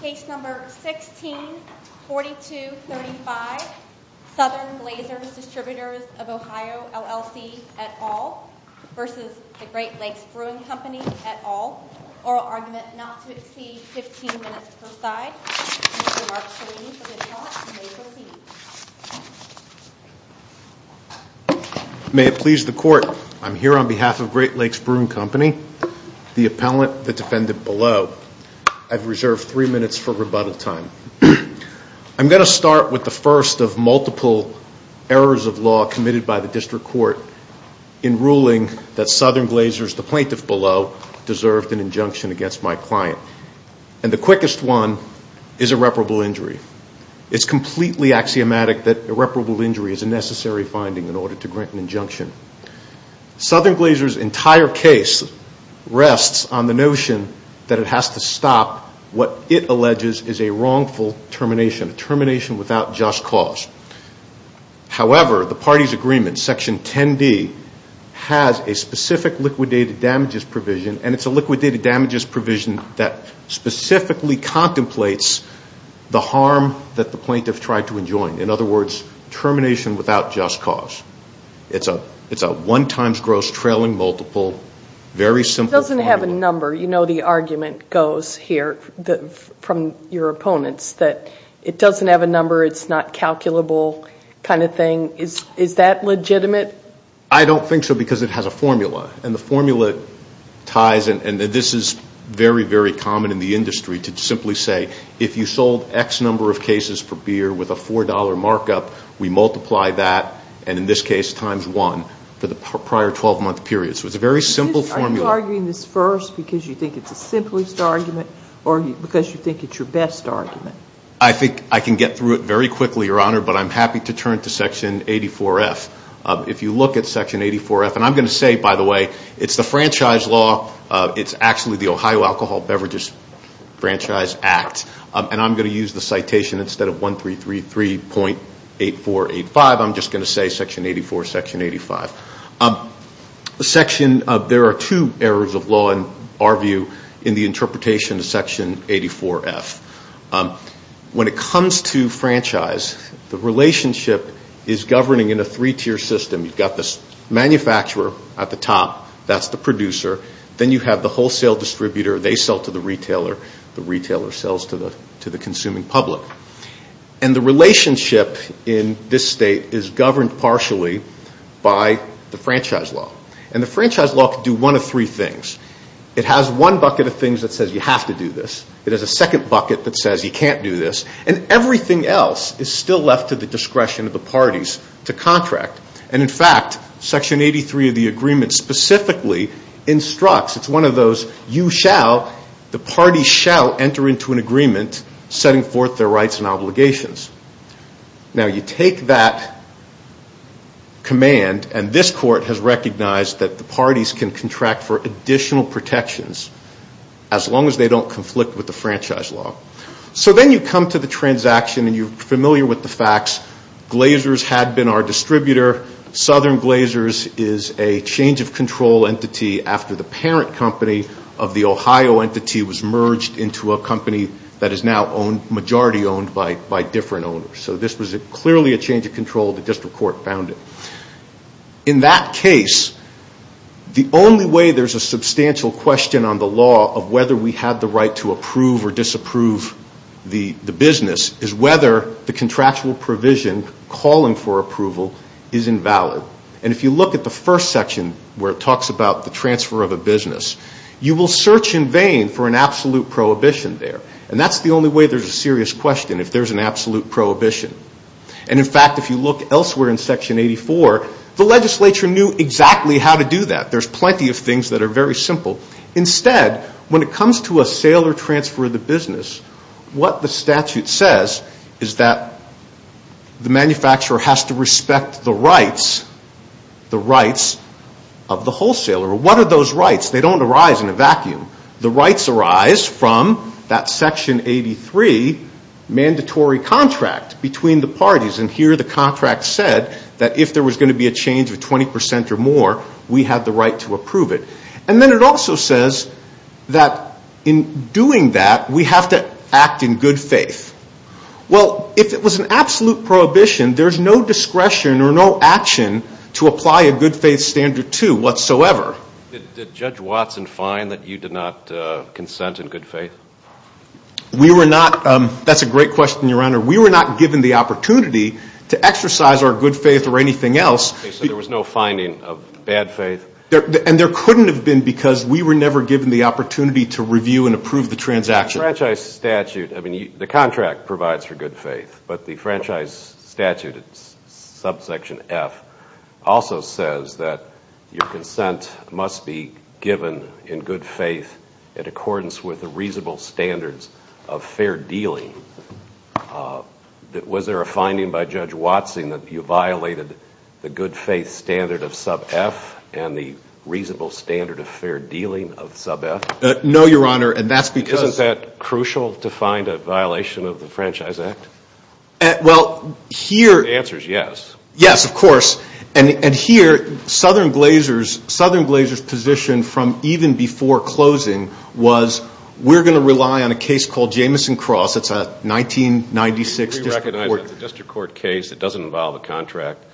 Case number 16-4235, Southern Glazers Distributors of Ohio LLC et al. v. The Great Lakes Brewing Company et al. Oral argument not to exceed 15 minutes per side. Mr. Mark Salini for the attorney and may proceed. May it please the court, I'm here on behalf of Great Lakes Brewing Company, the appellant, the defendant below. I've reserved three minutes for rebuttal time. I'm going to start with the first of multiple errors of law committed by the district court in ruling that Southern Glazers, the plaintiff below, deserved an injunction against my client. And the quickest one is irreparable injury. It's completely axiomatic that irreparable injury is a necessary finding in order to grant an injunction. Southern Glazers' entire case rests on the notion that it has to stop what it alleges is a wrongful termination, a termination without just cause. However, the party's agreement, Section 10D, has a specific liquidated damages provision, and it's a liquidated damages provision that specifically contemplates the harm that the plaintiff tried to enjoin. In other words, termination without just cause. It's a one times gross trailing multiple, very simple formula. It doesn't have a number. You know the argument goes here from your opponents that it doesn't have a number, it's not calculable kind of thing. Is that legitimate? I don't think so because it has a formula. And the formula ties, and this is very, very common in the industry, to simply say if you sold X number of cases per beer with a $4 markup, we multiply that, and in this case times one, for the prior 12-month period. So it's a very simple formula. Are you arguing this first because you think it's the simplest argument or because you think it's your best argument? I think I can get through it very quickly, Your Honor, but I'm happy to turn to Section 84F. If you look at Section 84F, and I'm going to say, by the way, it's the franchise law, it's actually the Ohio Alcohol Beverages Franchise Act, and I'm going to use the citation instead of 1333.8485, I'm just going to say Section 84, Section 85. There are two areas of law in our view in the interpretation of Section 84F. When it comes to franchise, the relationship is governing in a three-tier system. You've got this manufacturer at the top, that's the producer, then you have the wholesale distributor, they sell to the retailer, the retailer sells to the consuming public. And the relationship in this state is governed partially by the franchise law. And the franchise law can do one of three things. It has one bucket of things that says you have to do this. It has a second bucket that says you can't do this. And everything else is still left to the discretion of the parties to contract. And in fact, Section 83 of the agreement specifically instructs, it's one of those, you shall, the parties shall enter into an agreement setting forth their rights and obligations. Now you take that command, and this court has recognized that the parties can contract for additional protections, as long as they don't conflict with the franchise law. So then you come to the transaction, and you're familiar with the facts. Glazers had been our distributor. Southern Glazers is a change of control entity after the parent company of the Ohio entity was merged into a company that is now majority owned by different owners. So this was clearly a change of control. The district court found it. In that case, the only way there's a substantial question on the law of whether we have the right to approve or disapprove the business is whether the contractual provision calling for approval is invalid. And if you look at the first section where it talks about the transfer of a business, you will search in vain for an absolute prohibition there. And that's the only way there's a serious question, if there's an absolute prohibition. And in fact, if you look elsewhere in Section 84, the legislature knew exactly how to do that. There's plenty of things that are very simple. Instead, when it comes to a sale or transfer of the business, what the statute says is that the manufacturer has to respect the rights, the rights of the wholesaler. What are those rights? They don't arise in a vacuum. The rights arise from that Section 83 mandatory contract between the parties. And here the contract said that if there was going to be a change of 20% or more, we have the right to approve it. And then it also says that in doing that, we have to act in good faith. Well, if it was an absolute prohibition, there's no discretion or no action to apply a good faith standard to whatsoever. Did Judge Watson find that you did not consent in good faith? We were not. That's a great question, Your Honor. We were not given the opportunity to exercise our good faith or anything else. So there was no finding of bad faith? And there couldn't have been because we were never given the opportunity to review and approve the transaction. The franchise statute, I mean, the contract provides for good faith. But the franchise statute, subsection F, also says that your consent must be given in good faith in accordance with the reasonable standards of fair dealing. Was there a finding by Judge Watson that you violated the good faith standard of sub F and the reasonable standard of fair dealing of sub F? No, Your Honor. And that's because... Isn't that crucial to find a violation of the Franchise Act? The answer is yes. Yes, of course. And here, Southern Glazer's position from even before closing was, we're going to rely on a case called Jameson Cross. It's a 1996 district court. We recognize it's a district court case. It doesn't involve a contract.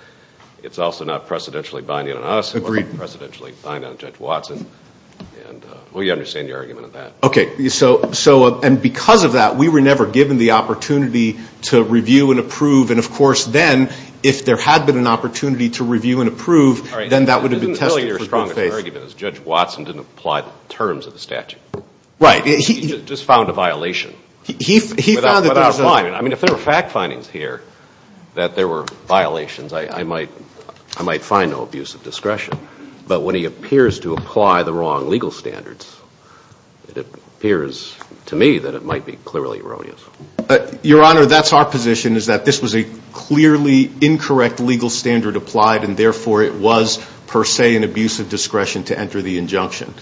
It's also not precedentially binding on us. It wasn't precedentially binding on Judge Watson. We understand your argument on that. Okay. And because of that, we were never given the opportunity to review and approve. And of course, then, if there had been an opportunity to review and approve, then that would have been tested for good faith. All right. I didn't tell you your strongest argument is Judge Watson didn't apply the terms of the statute. Right. He just found a violation. I mean, if there were fact findings here that there were violations, I might find no abuse of discretion. But when he appears to apply the wrong legal standards, it appears to me that it might be clearly erroneous. Your Honor, that's our position, is that this was a clearly incorrect legal standard applied, and therefore it was, per se, an abuse of discretion to enter the injunction.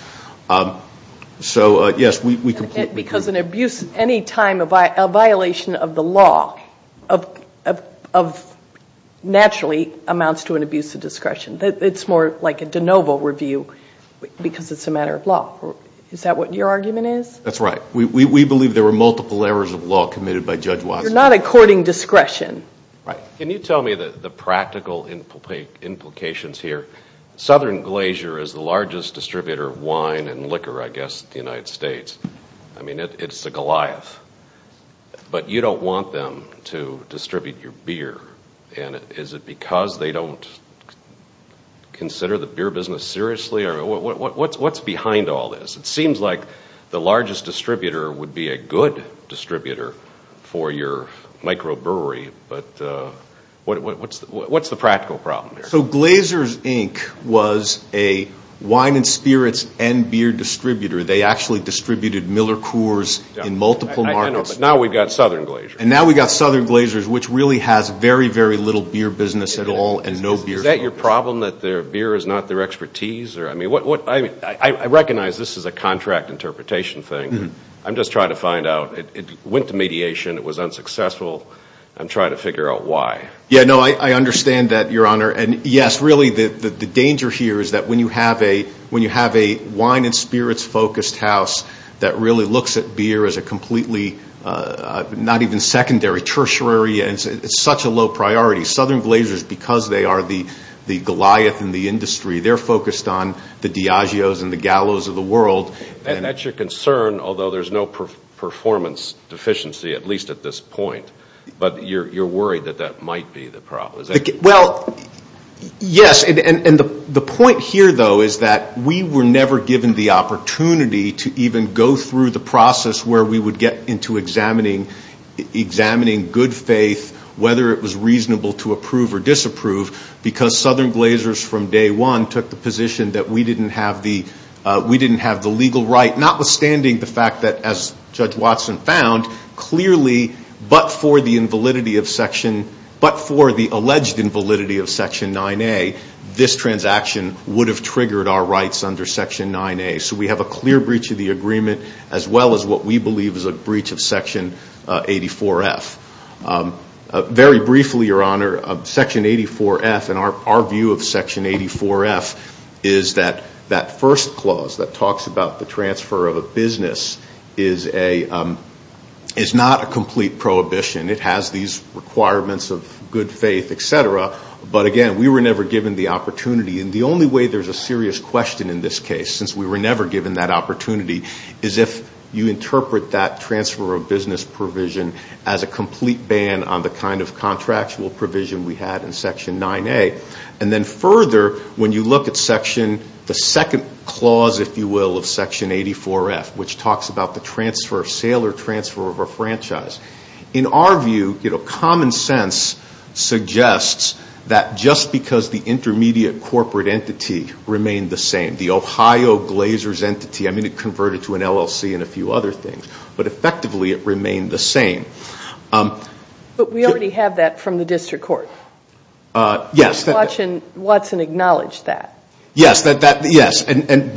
So, yes, we completely agree. Because any time a violation of the law naturally amounts to an abuse of discretion. It's more like a de novo review because it's a matter of law. Is that what your argument is? That's right. We believe there were multiple errors of law committed by Judge Watson. You're not according discretion. Right. Can you tell me the practical implications here? Southern Glacier is the largest distributor of wine and liquor, I guess, in the United States. I mean, it's the Goliath. But you don't want them to distribute your beer. And is it because they don't consider the beer business seriously? What's behind all this? It seems like the largest distributor would be a good distributor for your microbrewery. But what's the practical problem here? So Glacier's Inc. was a wine and spirits and beer distributor. They actually distributed Miller Coors in multiple markets. Now we've got Southern Glacier. Is that your problem, that their beer is not their expertise? I recognize this is a contract interpretation thing. I'm just trying to find out. It went to mediation. It was unsuccessful. I'm trying to figure out why. Yeah, no, I understand that, Your Honor. And yes, really, the danger here is that when you have a wine and spirits focused house that really looks at beer as a completely, not even secondary, tertiary, it's such a low priority. Southern Glacier is because they are the Goliath in the industry. They're focused on the Diageo's and the Gallo's of the world. That's your concern, although there's no performance deficiency, at least at this point. But you're worried that that might be the problem. Yes, and the point here, though, is that we were never given the opportunity to even go through the process where we would get into examining good faith, whether it was reasonable to approve or disapprove, because Southern Glaciers from day one took the position that we didn't have the legal right, notwithstanding the fact that, as Judge Watson found, clearly, but for the alleged invalidity of Section 9A, this transaction would have triggered our rights under Section 9A. So we have a clear breach of the agreement, as well as what we believe is a breach of Section 84F. Very briefly, Your Honor, Section 84F, and our view of Section 84F, is that that first clause that talks about the transfer of a business is not a complete prohibition. It has these requirements of good faith, et cetera. But again, we were never given the opportunity. And the only way there's a serious question in this case, since we were never given that opportunity, is if you interpret that transfer of business provision as a complete ban on the kind of contractual provision we had in Section 9A. And then further, when you look at the second clause, if you will, of Section 84F, which talks about the sale or transfer of a franchise, in our view, common sense suggests that just because the intermediate corporate entity remained the same, the Ohio Glazers entity, I mean it converted to an LLC and a few other things, but effectively it remained the same. But we already have that from the district court. Watson acknowledged that. He didn't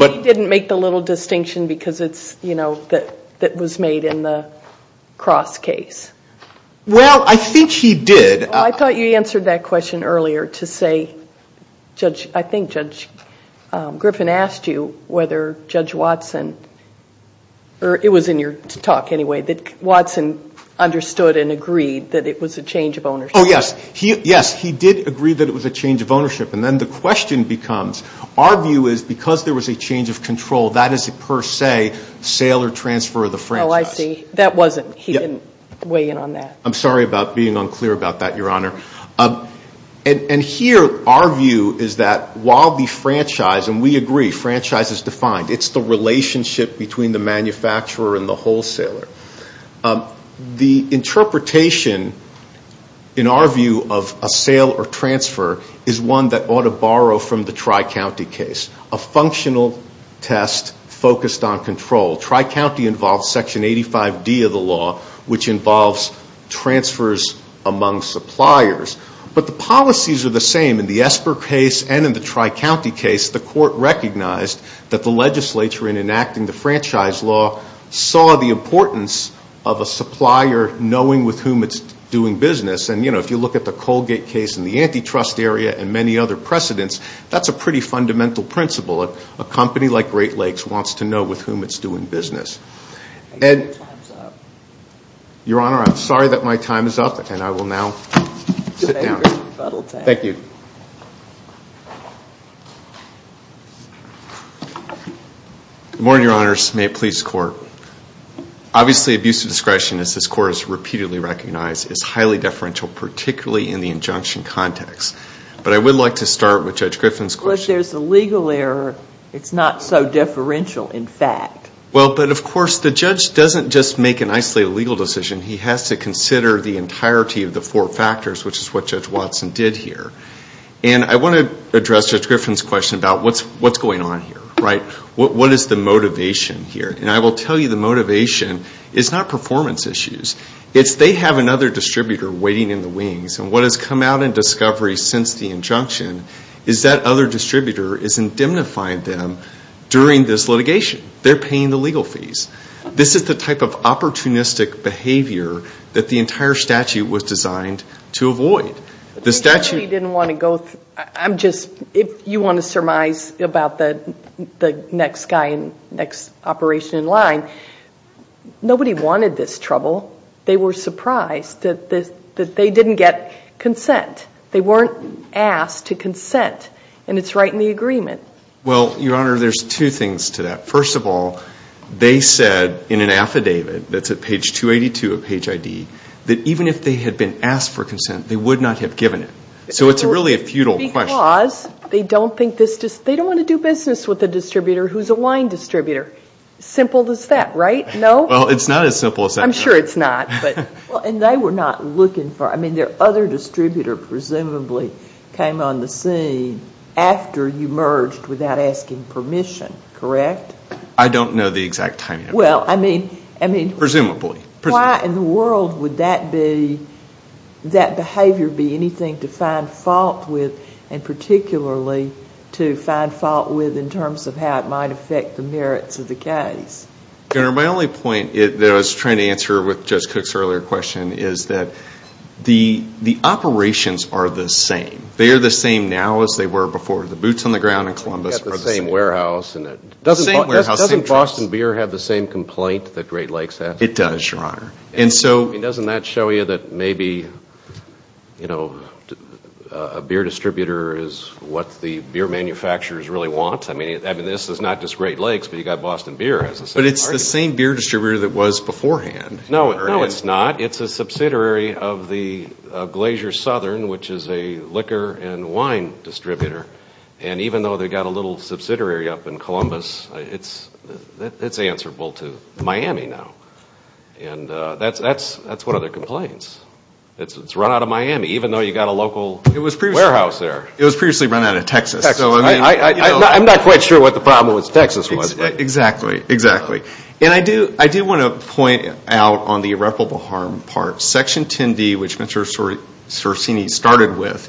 make the little distinction that was made in the Cross case. I think he did. I thought you answered that question earlier to say, I think Judge Griffin asked you whether Judge Watson, or it was in your talk anyway, that Watson understood and agreed that it was a change of ownership. Oh, yes. Yes, he did agree that it was a change of ownership. And then the question becomes, our view is because there was a change of control, that is per se sale or transfer of the franchise. Oh, I see. That wasn't. He didn't weigh in on that. I'm sorry about being unclear about that, Your Honor. And here our view is that while the franchise, and we agree, franchise is defined. It's the relationship between the manufacturer and the wholesaler. The interpretation, in our view, of a sale or transfer is one that ought to borrow from the Tri-County case. A functional test focused on control. Tri-County involves Section 85D of the law, which involves transfers among suppliers. But the policies are the same in the Esper case and in the Tri-County case. The court recognized that the legislature, in enacting the franchise law, saw the importance of a supplier knowing with whom it's doing business. And if you look at the Colgate case in the antitrust area and many other precedents, that's a pretty fundamental principle. A company like Great Lakes wants to know with whom it's doing business. Your Honor, I'm sorry that my time is up, and I will now sit down. Thank you. Good morning, Your Honors. May it please the Court. Obviously, abuse of discretion, as this Court has repeatedly recognized, is highly deferential, particularly in the injunction context. But I would like to start with Judge Griffin's question. Well, but of course, the judge doesn't just make an isolated legal decision. He has to consider the entirety of the four factors, which is what Judge Watson did here. And I want to address Judge Griffin's question about what's going on here, right? What is the motivation here? And I will tell you the motivation is not performance issues. It's they have another distributor waiting in the wings. And what has come out in discovery since the injunction is that other distributor is indemnifying them during this litigation. They're paying the legal fees. This is the type of opportunistic behavior that the entire statute was designed to avoid. The statute... If you want to surmise about the next guy, next operation in line, nobody wanted this trouble. They were surprised that they didn't get consent. They weren't asked to consent. And it's right in the agreement. Well, Your Honor, there's two things to that. First of all, they said in an affidavit that's at page 282 of page ID that even if they had been asked for consent, they would not have given it. So it's really a futile question. Because they don't want to do business with a distributor who's a wine distributor. Simple as that, right? No? Well, it's not as simple as that. I'm sure it's not. And they were not looking for... I mean, their other distributor presumably came on the scene after you merged without asking permission, correct? I don't know the exact timing of that. Presumably. Why in the world would that behavior be anything to find fault with and particularly to find fault with in terms of how it might affect the merits of the case? Your Honor, my only point that I was trying to answer with Judge Cook's earlier question is that the operations are the same. They are the same now as they were before. The boots on the ground in Columbus are the same. Doesn't Boston Beer have the same complaint that Great Lakes has? It does, Your Honor. Doesn't that show you that maybe a beer distributor is what the beer manufacturers really want? I mean, this is not just Great Lakes, but you've got Boston Beer as a subject. But it's the same beer distributor that was beforehand. No, it's not. It's a subsidiary of Glacier Southern, which is a liquor and wine distributor. And even though they've got a little subsidiary up in Columbus, it's answerable to Miami now. That's one of their complaints. It's run out of Miami, even though you've got a local warehouse there. It was previously run out of Texas. I'm not quite sure what the problem with Texas was. Exactly. And I do want to point out on the irreparable harm part, Section 10B, which Mr. Sorcini started with,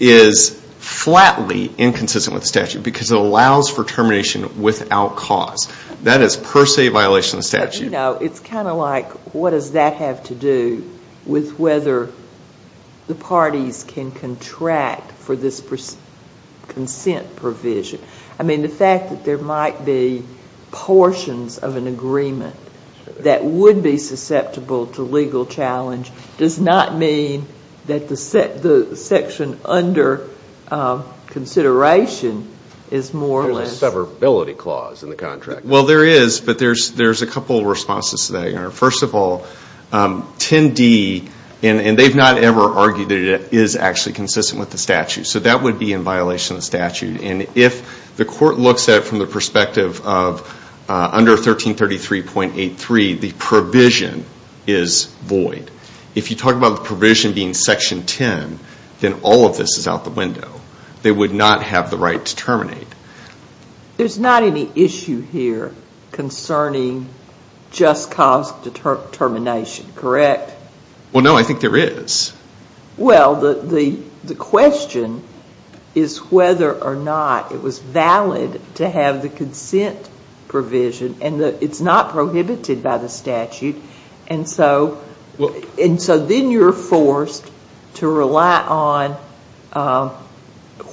is flatly inconsistent with the statute because it allows for termination without cause. That is per se a violation of the statute. It's kind of like, what does that have to do with whether the parties can contract for this consent provision? I mean, the fact that there might be portions of an agreement that would be susceptible to legal challenge does not mean that the section under consideration is more or less... Well, there is, but there's a couple of responses to that. First of all, 10D, and they've not ever argued that it is actually consistent with the statute. So that would be in violation of the statute. And if the court looks at it from the perspective of under 1333.83, the provision is void. If you talk about the provision being Section 10, then all of this is out the window. They would not have the right to terminate. There's not any issue here concerning just cause determination, correct? Well, no, I think there is. Well, the question is whether or not it was valid to have the consent provision, and it's not prohibited by the statute. And so then you're forced to rely on,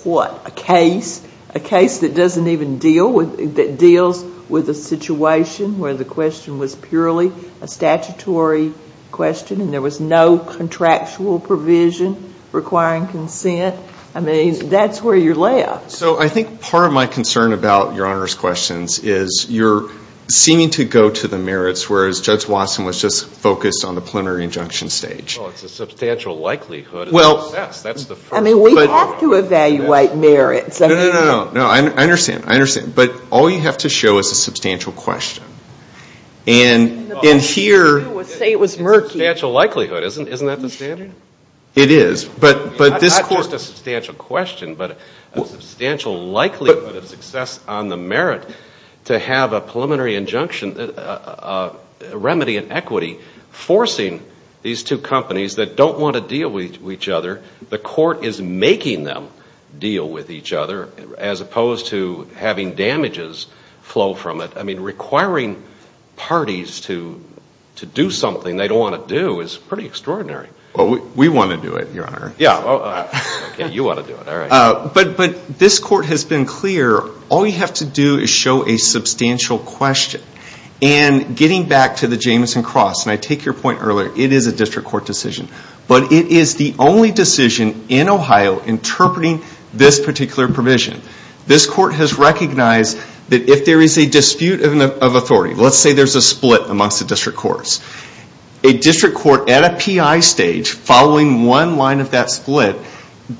what, a case, a case that doesn't even deal with, that deals with a situation where the question was purely a statutory question and there was no contractual provision requiring consent. I mean, that's where you're left. So I think part of my concern about Your Honor's questions is you're seeming to go to the merits, whereas Judge Watson was just focused on the preliminary injunction stage. Well, it's a substantial likelihood of success. I mean, we have to evaluate merits. No, no, no. I understand. I understand. But all you have to show is a substantial question. Say it was murky. Not just a substantial question, but a substantial likelihood of success on the merit to have a preliminary injunction, a remedy in equity, forcing these two companies that don't want to deal with each other, and the court is making them deal with each other, as opposed to having damages flow from it. I mean, requiring parties to do something they don't want to do is pretty extraordinary. We want to do it, Your Honor. But this court has been clear, all you have to do is show a substantial question. And getting back to the Jameson Cross, and I take your point earlier, it is a district court decision. But it is the only decision in Ohio interpreting this particular provision. This court has recognized that if there is a dispute of authority, let's say there's a split amongst the district courts, a district court at a PI stage following one line of that split,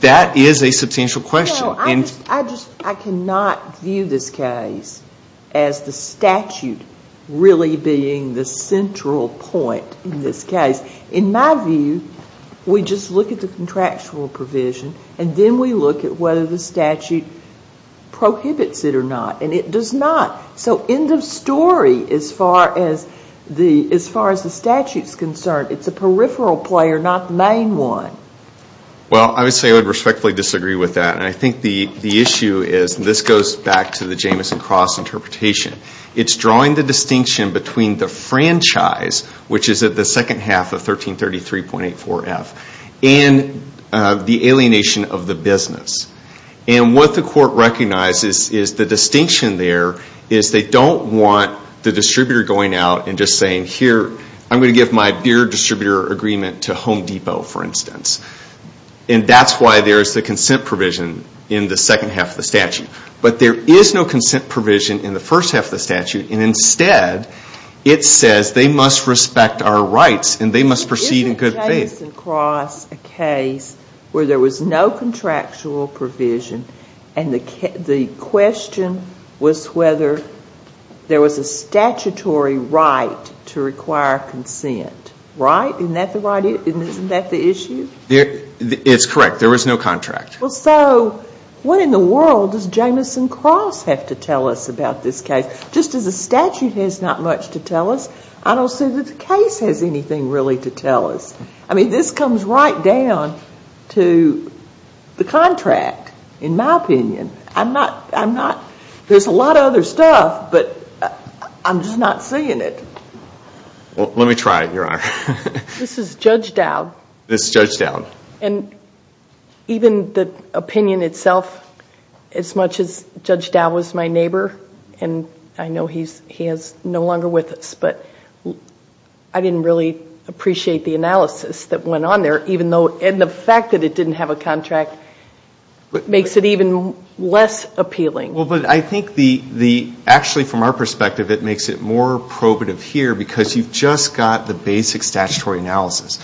that is a substantial question. I cannot view this case as the statute really being the central point in this case. In my view, we just look at the contractual provision, and then we look at whether the statute prohibits it or not. And it does not. So end of story as far as the statute is concerned. It's a peripheral player, not the main one. Well, I would respectfully disagree with that. And I think the issue is, and this goes back to the Jameson Cross interpretation, it's drawing the distinction between the franchise, which is at the second half of 1333.84F, and the alienation of the business. And what the court recognizes is the distinction there is they don't want the distributor going out and just saying, here, I'm going to give my beer distributor agreement to Home Depot, for instance. And that's why there's the consent provision in the second half of the statute. But there is no consent provision in the first half of the statute, and instead it says they must respect our rights and they must proceed in good faith. Isn't Jameson Cross a case where there was no contractual provision and the question was whether there was a statutory right to require consent? Right? Isn't that the issue? It's correct. There was no contract. Well, so what in the world does Jameson Cross have to tell us about this case? Just as the statute has not much to tell us, I don't see that the case has anything really to tell us. I mean, this comes right down to the contract, in my opinion. There's a lot of other stuff, but I'm just not seeing it. This is Judge Dowd. And even the opinion itself, as much as Judge Dowd was my neighbor, and I know he is no longer with us, but I didn't really appreciate the analysis that went on there. And the fact that it didn't have a contract makes it even less appealing. Well, but I think actually from our perspective it makes it more probative here because you've just got the basic statutory analysis.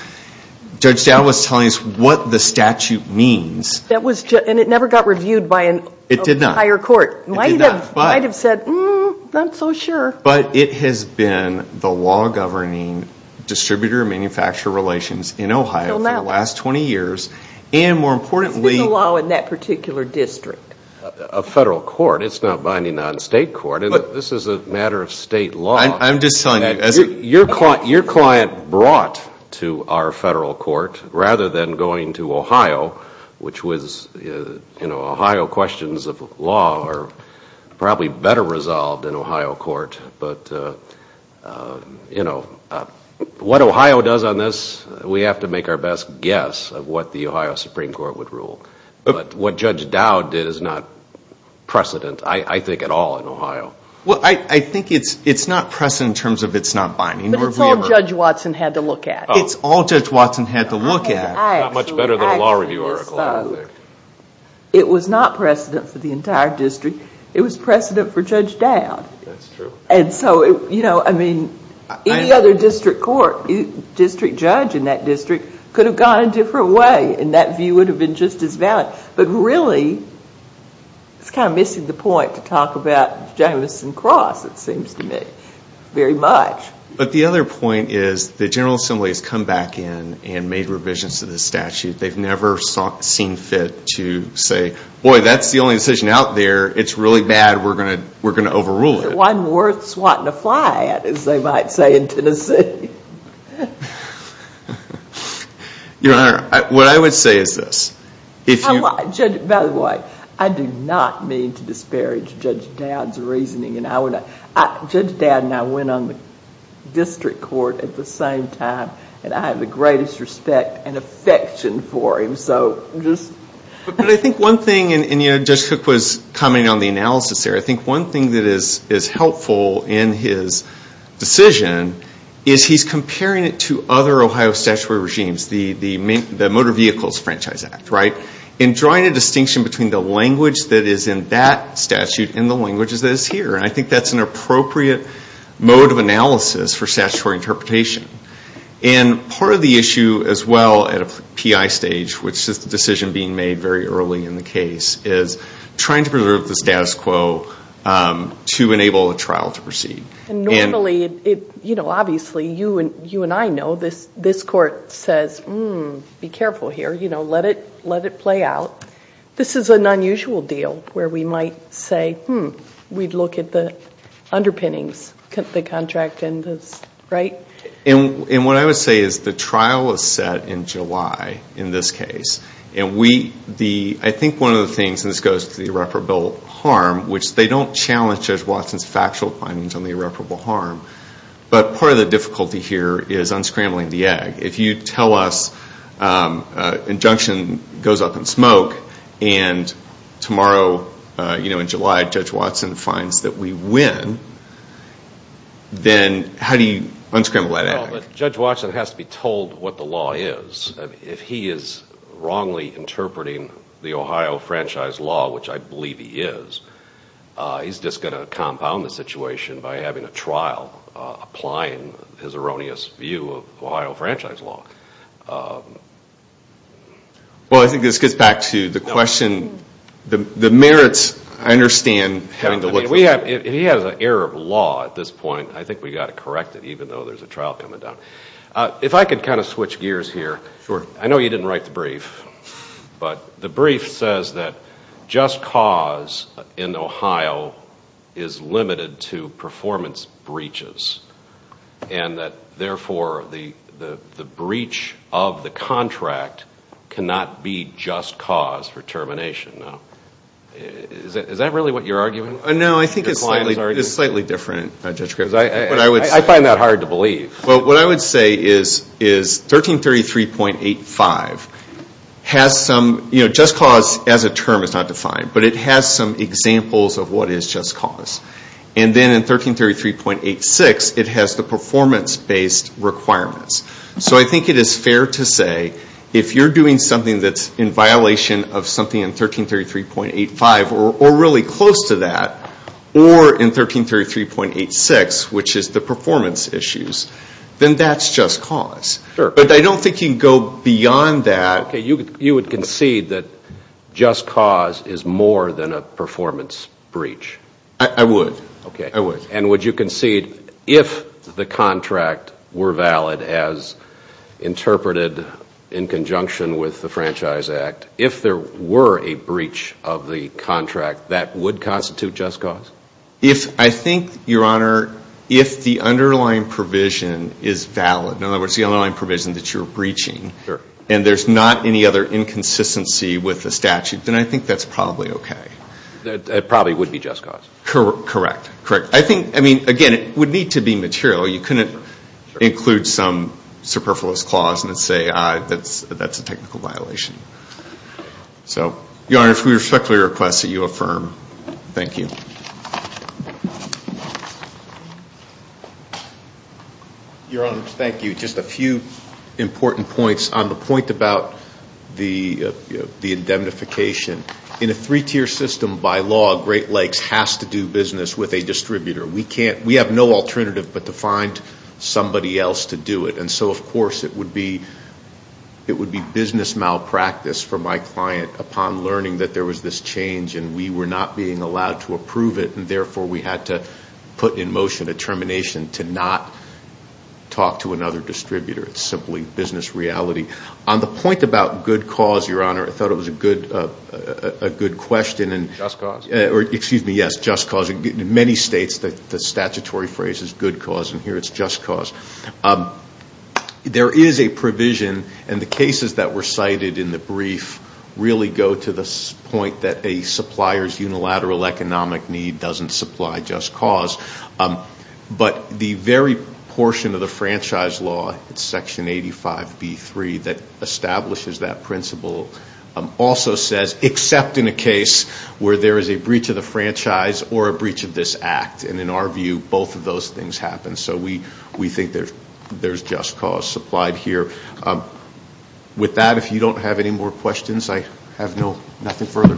Judge Dowd was telling us what the statute means. And it never got reviewed by a higher court. It did not. But it has been the law governing distributor-manufacturer relations in Ohio for the last 20 years. It's been the law in that particular district. A federal court. It's not binding on state court. This is a matter of state law. Your client brought to our federal court, rather than going to Ohio, which was, you know, Ohio questions of law are probably better resolved in Ohio court. But, you know, what Ohio does on this, we have to make our best guess of what the Ohio Supreme Court would rule. But what Judge Dowd did is not precedent, I think, at all in Ohio. Well, I think it's not precedent in terms of it's not binding. But it's all Judge Watson had to look at. It was not precedent for the entire district. It was precedent for Judge Dowd. And so, you know, I mean, any other district court, district judge in that district, could have gone a different way, and that view would have been just as valid. But really, it's kind of missing the point to talk about Jamison Cross, it seems to me, very much. But the other point is the General Assembly has come back in and made revisions to this statute. They've never seen fit to say, boy, that's the only decision out there. It's really bad. We're going to overrule it. One worth swatting a fly at, as they might say in Tennessee. Your Honor, what I would say is this. By the way, I do not mean to disparage Judge Dowd's reasoning. Judge Dowd and I went on the district court at the same time, and I have the greatest respect and affection for him. But I think one thing, and Judge Cook was commenting on the analysis there, I think one thing that is helpful in his decision is he's comparing it to other Ohio statutory regimes, the Motor Vehicles Franchise Act, right? And drawing a distinction between the language that is in that statute and the language that is here. And I think that's an appropriate mode of analysis for statutory interpretation. And part of the issue as well at a PI stage, which is the decision being made very early in the case, is trying to preserve the status quo to enable a trial to proceed. And normally, obviously, you and I know this court says, be careful here. Let it play out. This is an unusual deal where we might say, hmm, we'd look at the underpinnings, the contract, right? And what I would say is the trial is set in July in this case. And I think one of the things, and this goes to the irreparable harm, which they don't challenge Judge Watson's factual findings on the irreparable harm, but part of the difficulty here is unscrambling the egg. If you tell us an injunction goes up in smoke and tomorrow in July Judge Watson finds that we win, then how do you unscramble that egg? Well, Judge Watson has to be told what the law is. If he is wrongly interpreting the Ohio franchise law, which I believe he is, he's just going to compound the situation by having a trial, applying his erroneous view of Ohio franchise law. Well, I think this gets back to the question, the merits, I understand. If he has an error of law at this point, I think we've got to correct it even though there's a trial coming down. If I could kind of switch gears here, I know you didn't write the brief, but the brief says that just cause in Ohio is limited to performance breaches and that therefore the breach of the contract cannot be just cause for termination. Is that really what you're arguing? No, I think it's slightly different. I find that hard to believe. Well, what I would say is 1333.85 has some, just cause as a term is not defined, but it has some examples of what is just cause. And then in 1333.86 it has the performance-based requirements. So I think it is fair to say if you're doing something that's in violation of something in 1333.85 or really close to that, or in 1333.86, which is the performance issues, then that's just cause. But I don't think you can go beyond that. Okay, you would concede that just cause is more than a performance breach? I would. I would. And would you concede if the contract were valid as interpreted in conjunction with the Franchise Act, if there were a breach of the contract, that would constitute just cause? I think, Your Honor, if the underlying provision is valid, in other words, the underlying provision that you're breaching, and there's not any other inconsistency with the statute, then I think that's probably okay. That probably would be just cause? Correct. I think, again, it would need to be material. You couldn't include some superfluous clause and say that's a technical violation. So, Your Honor, we respectfully request that you affirm. Thank you. Your Honor, thank you. Just a few important points. On the point about the indemnification, in a three-tier system, by law, Great Lakes has to do business with a distributor. We have no alternative but to find somebody else to do it. And so, of course, it would be business malpractice for my client upon learning that there was this change, and we were not being allowed to approve it, and therefore we had to put in motion a termination to not talk to another distributor. It's simply business reality. On the point about good cause, Your Honor, I thought it was a good question. Just cause? Yes, just cause. In many states, the statutory phrase is good cause, and here it's just cause. There is a provision, and the cases that were cited in the brief really go to the point that a supplier's unilateral economic need doesn't supply just cause. But the very portion of the franchise law, it's Section 85B3, that establishes that principle, also says except in a case where there is a breach of the franchise or a breach of this act. And in our view, both of those things happen. So we think there's just cause supplied here. With that, if you don't have any more questions, I have nothing further.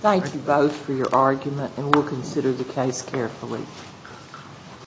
Thank you both for your argument, and we'll consider the case carefully.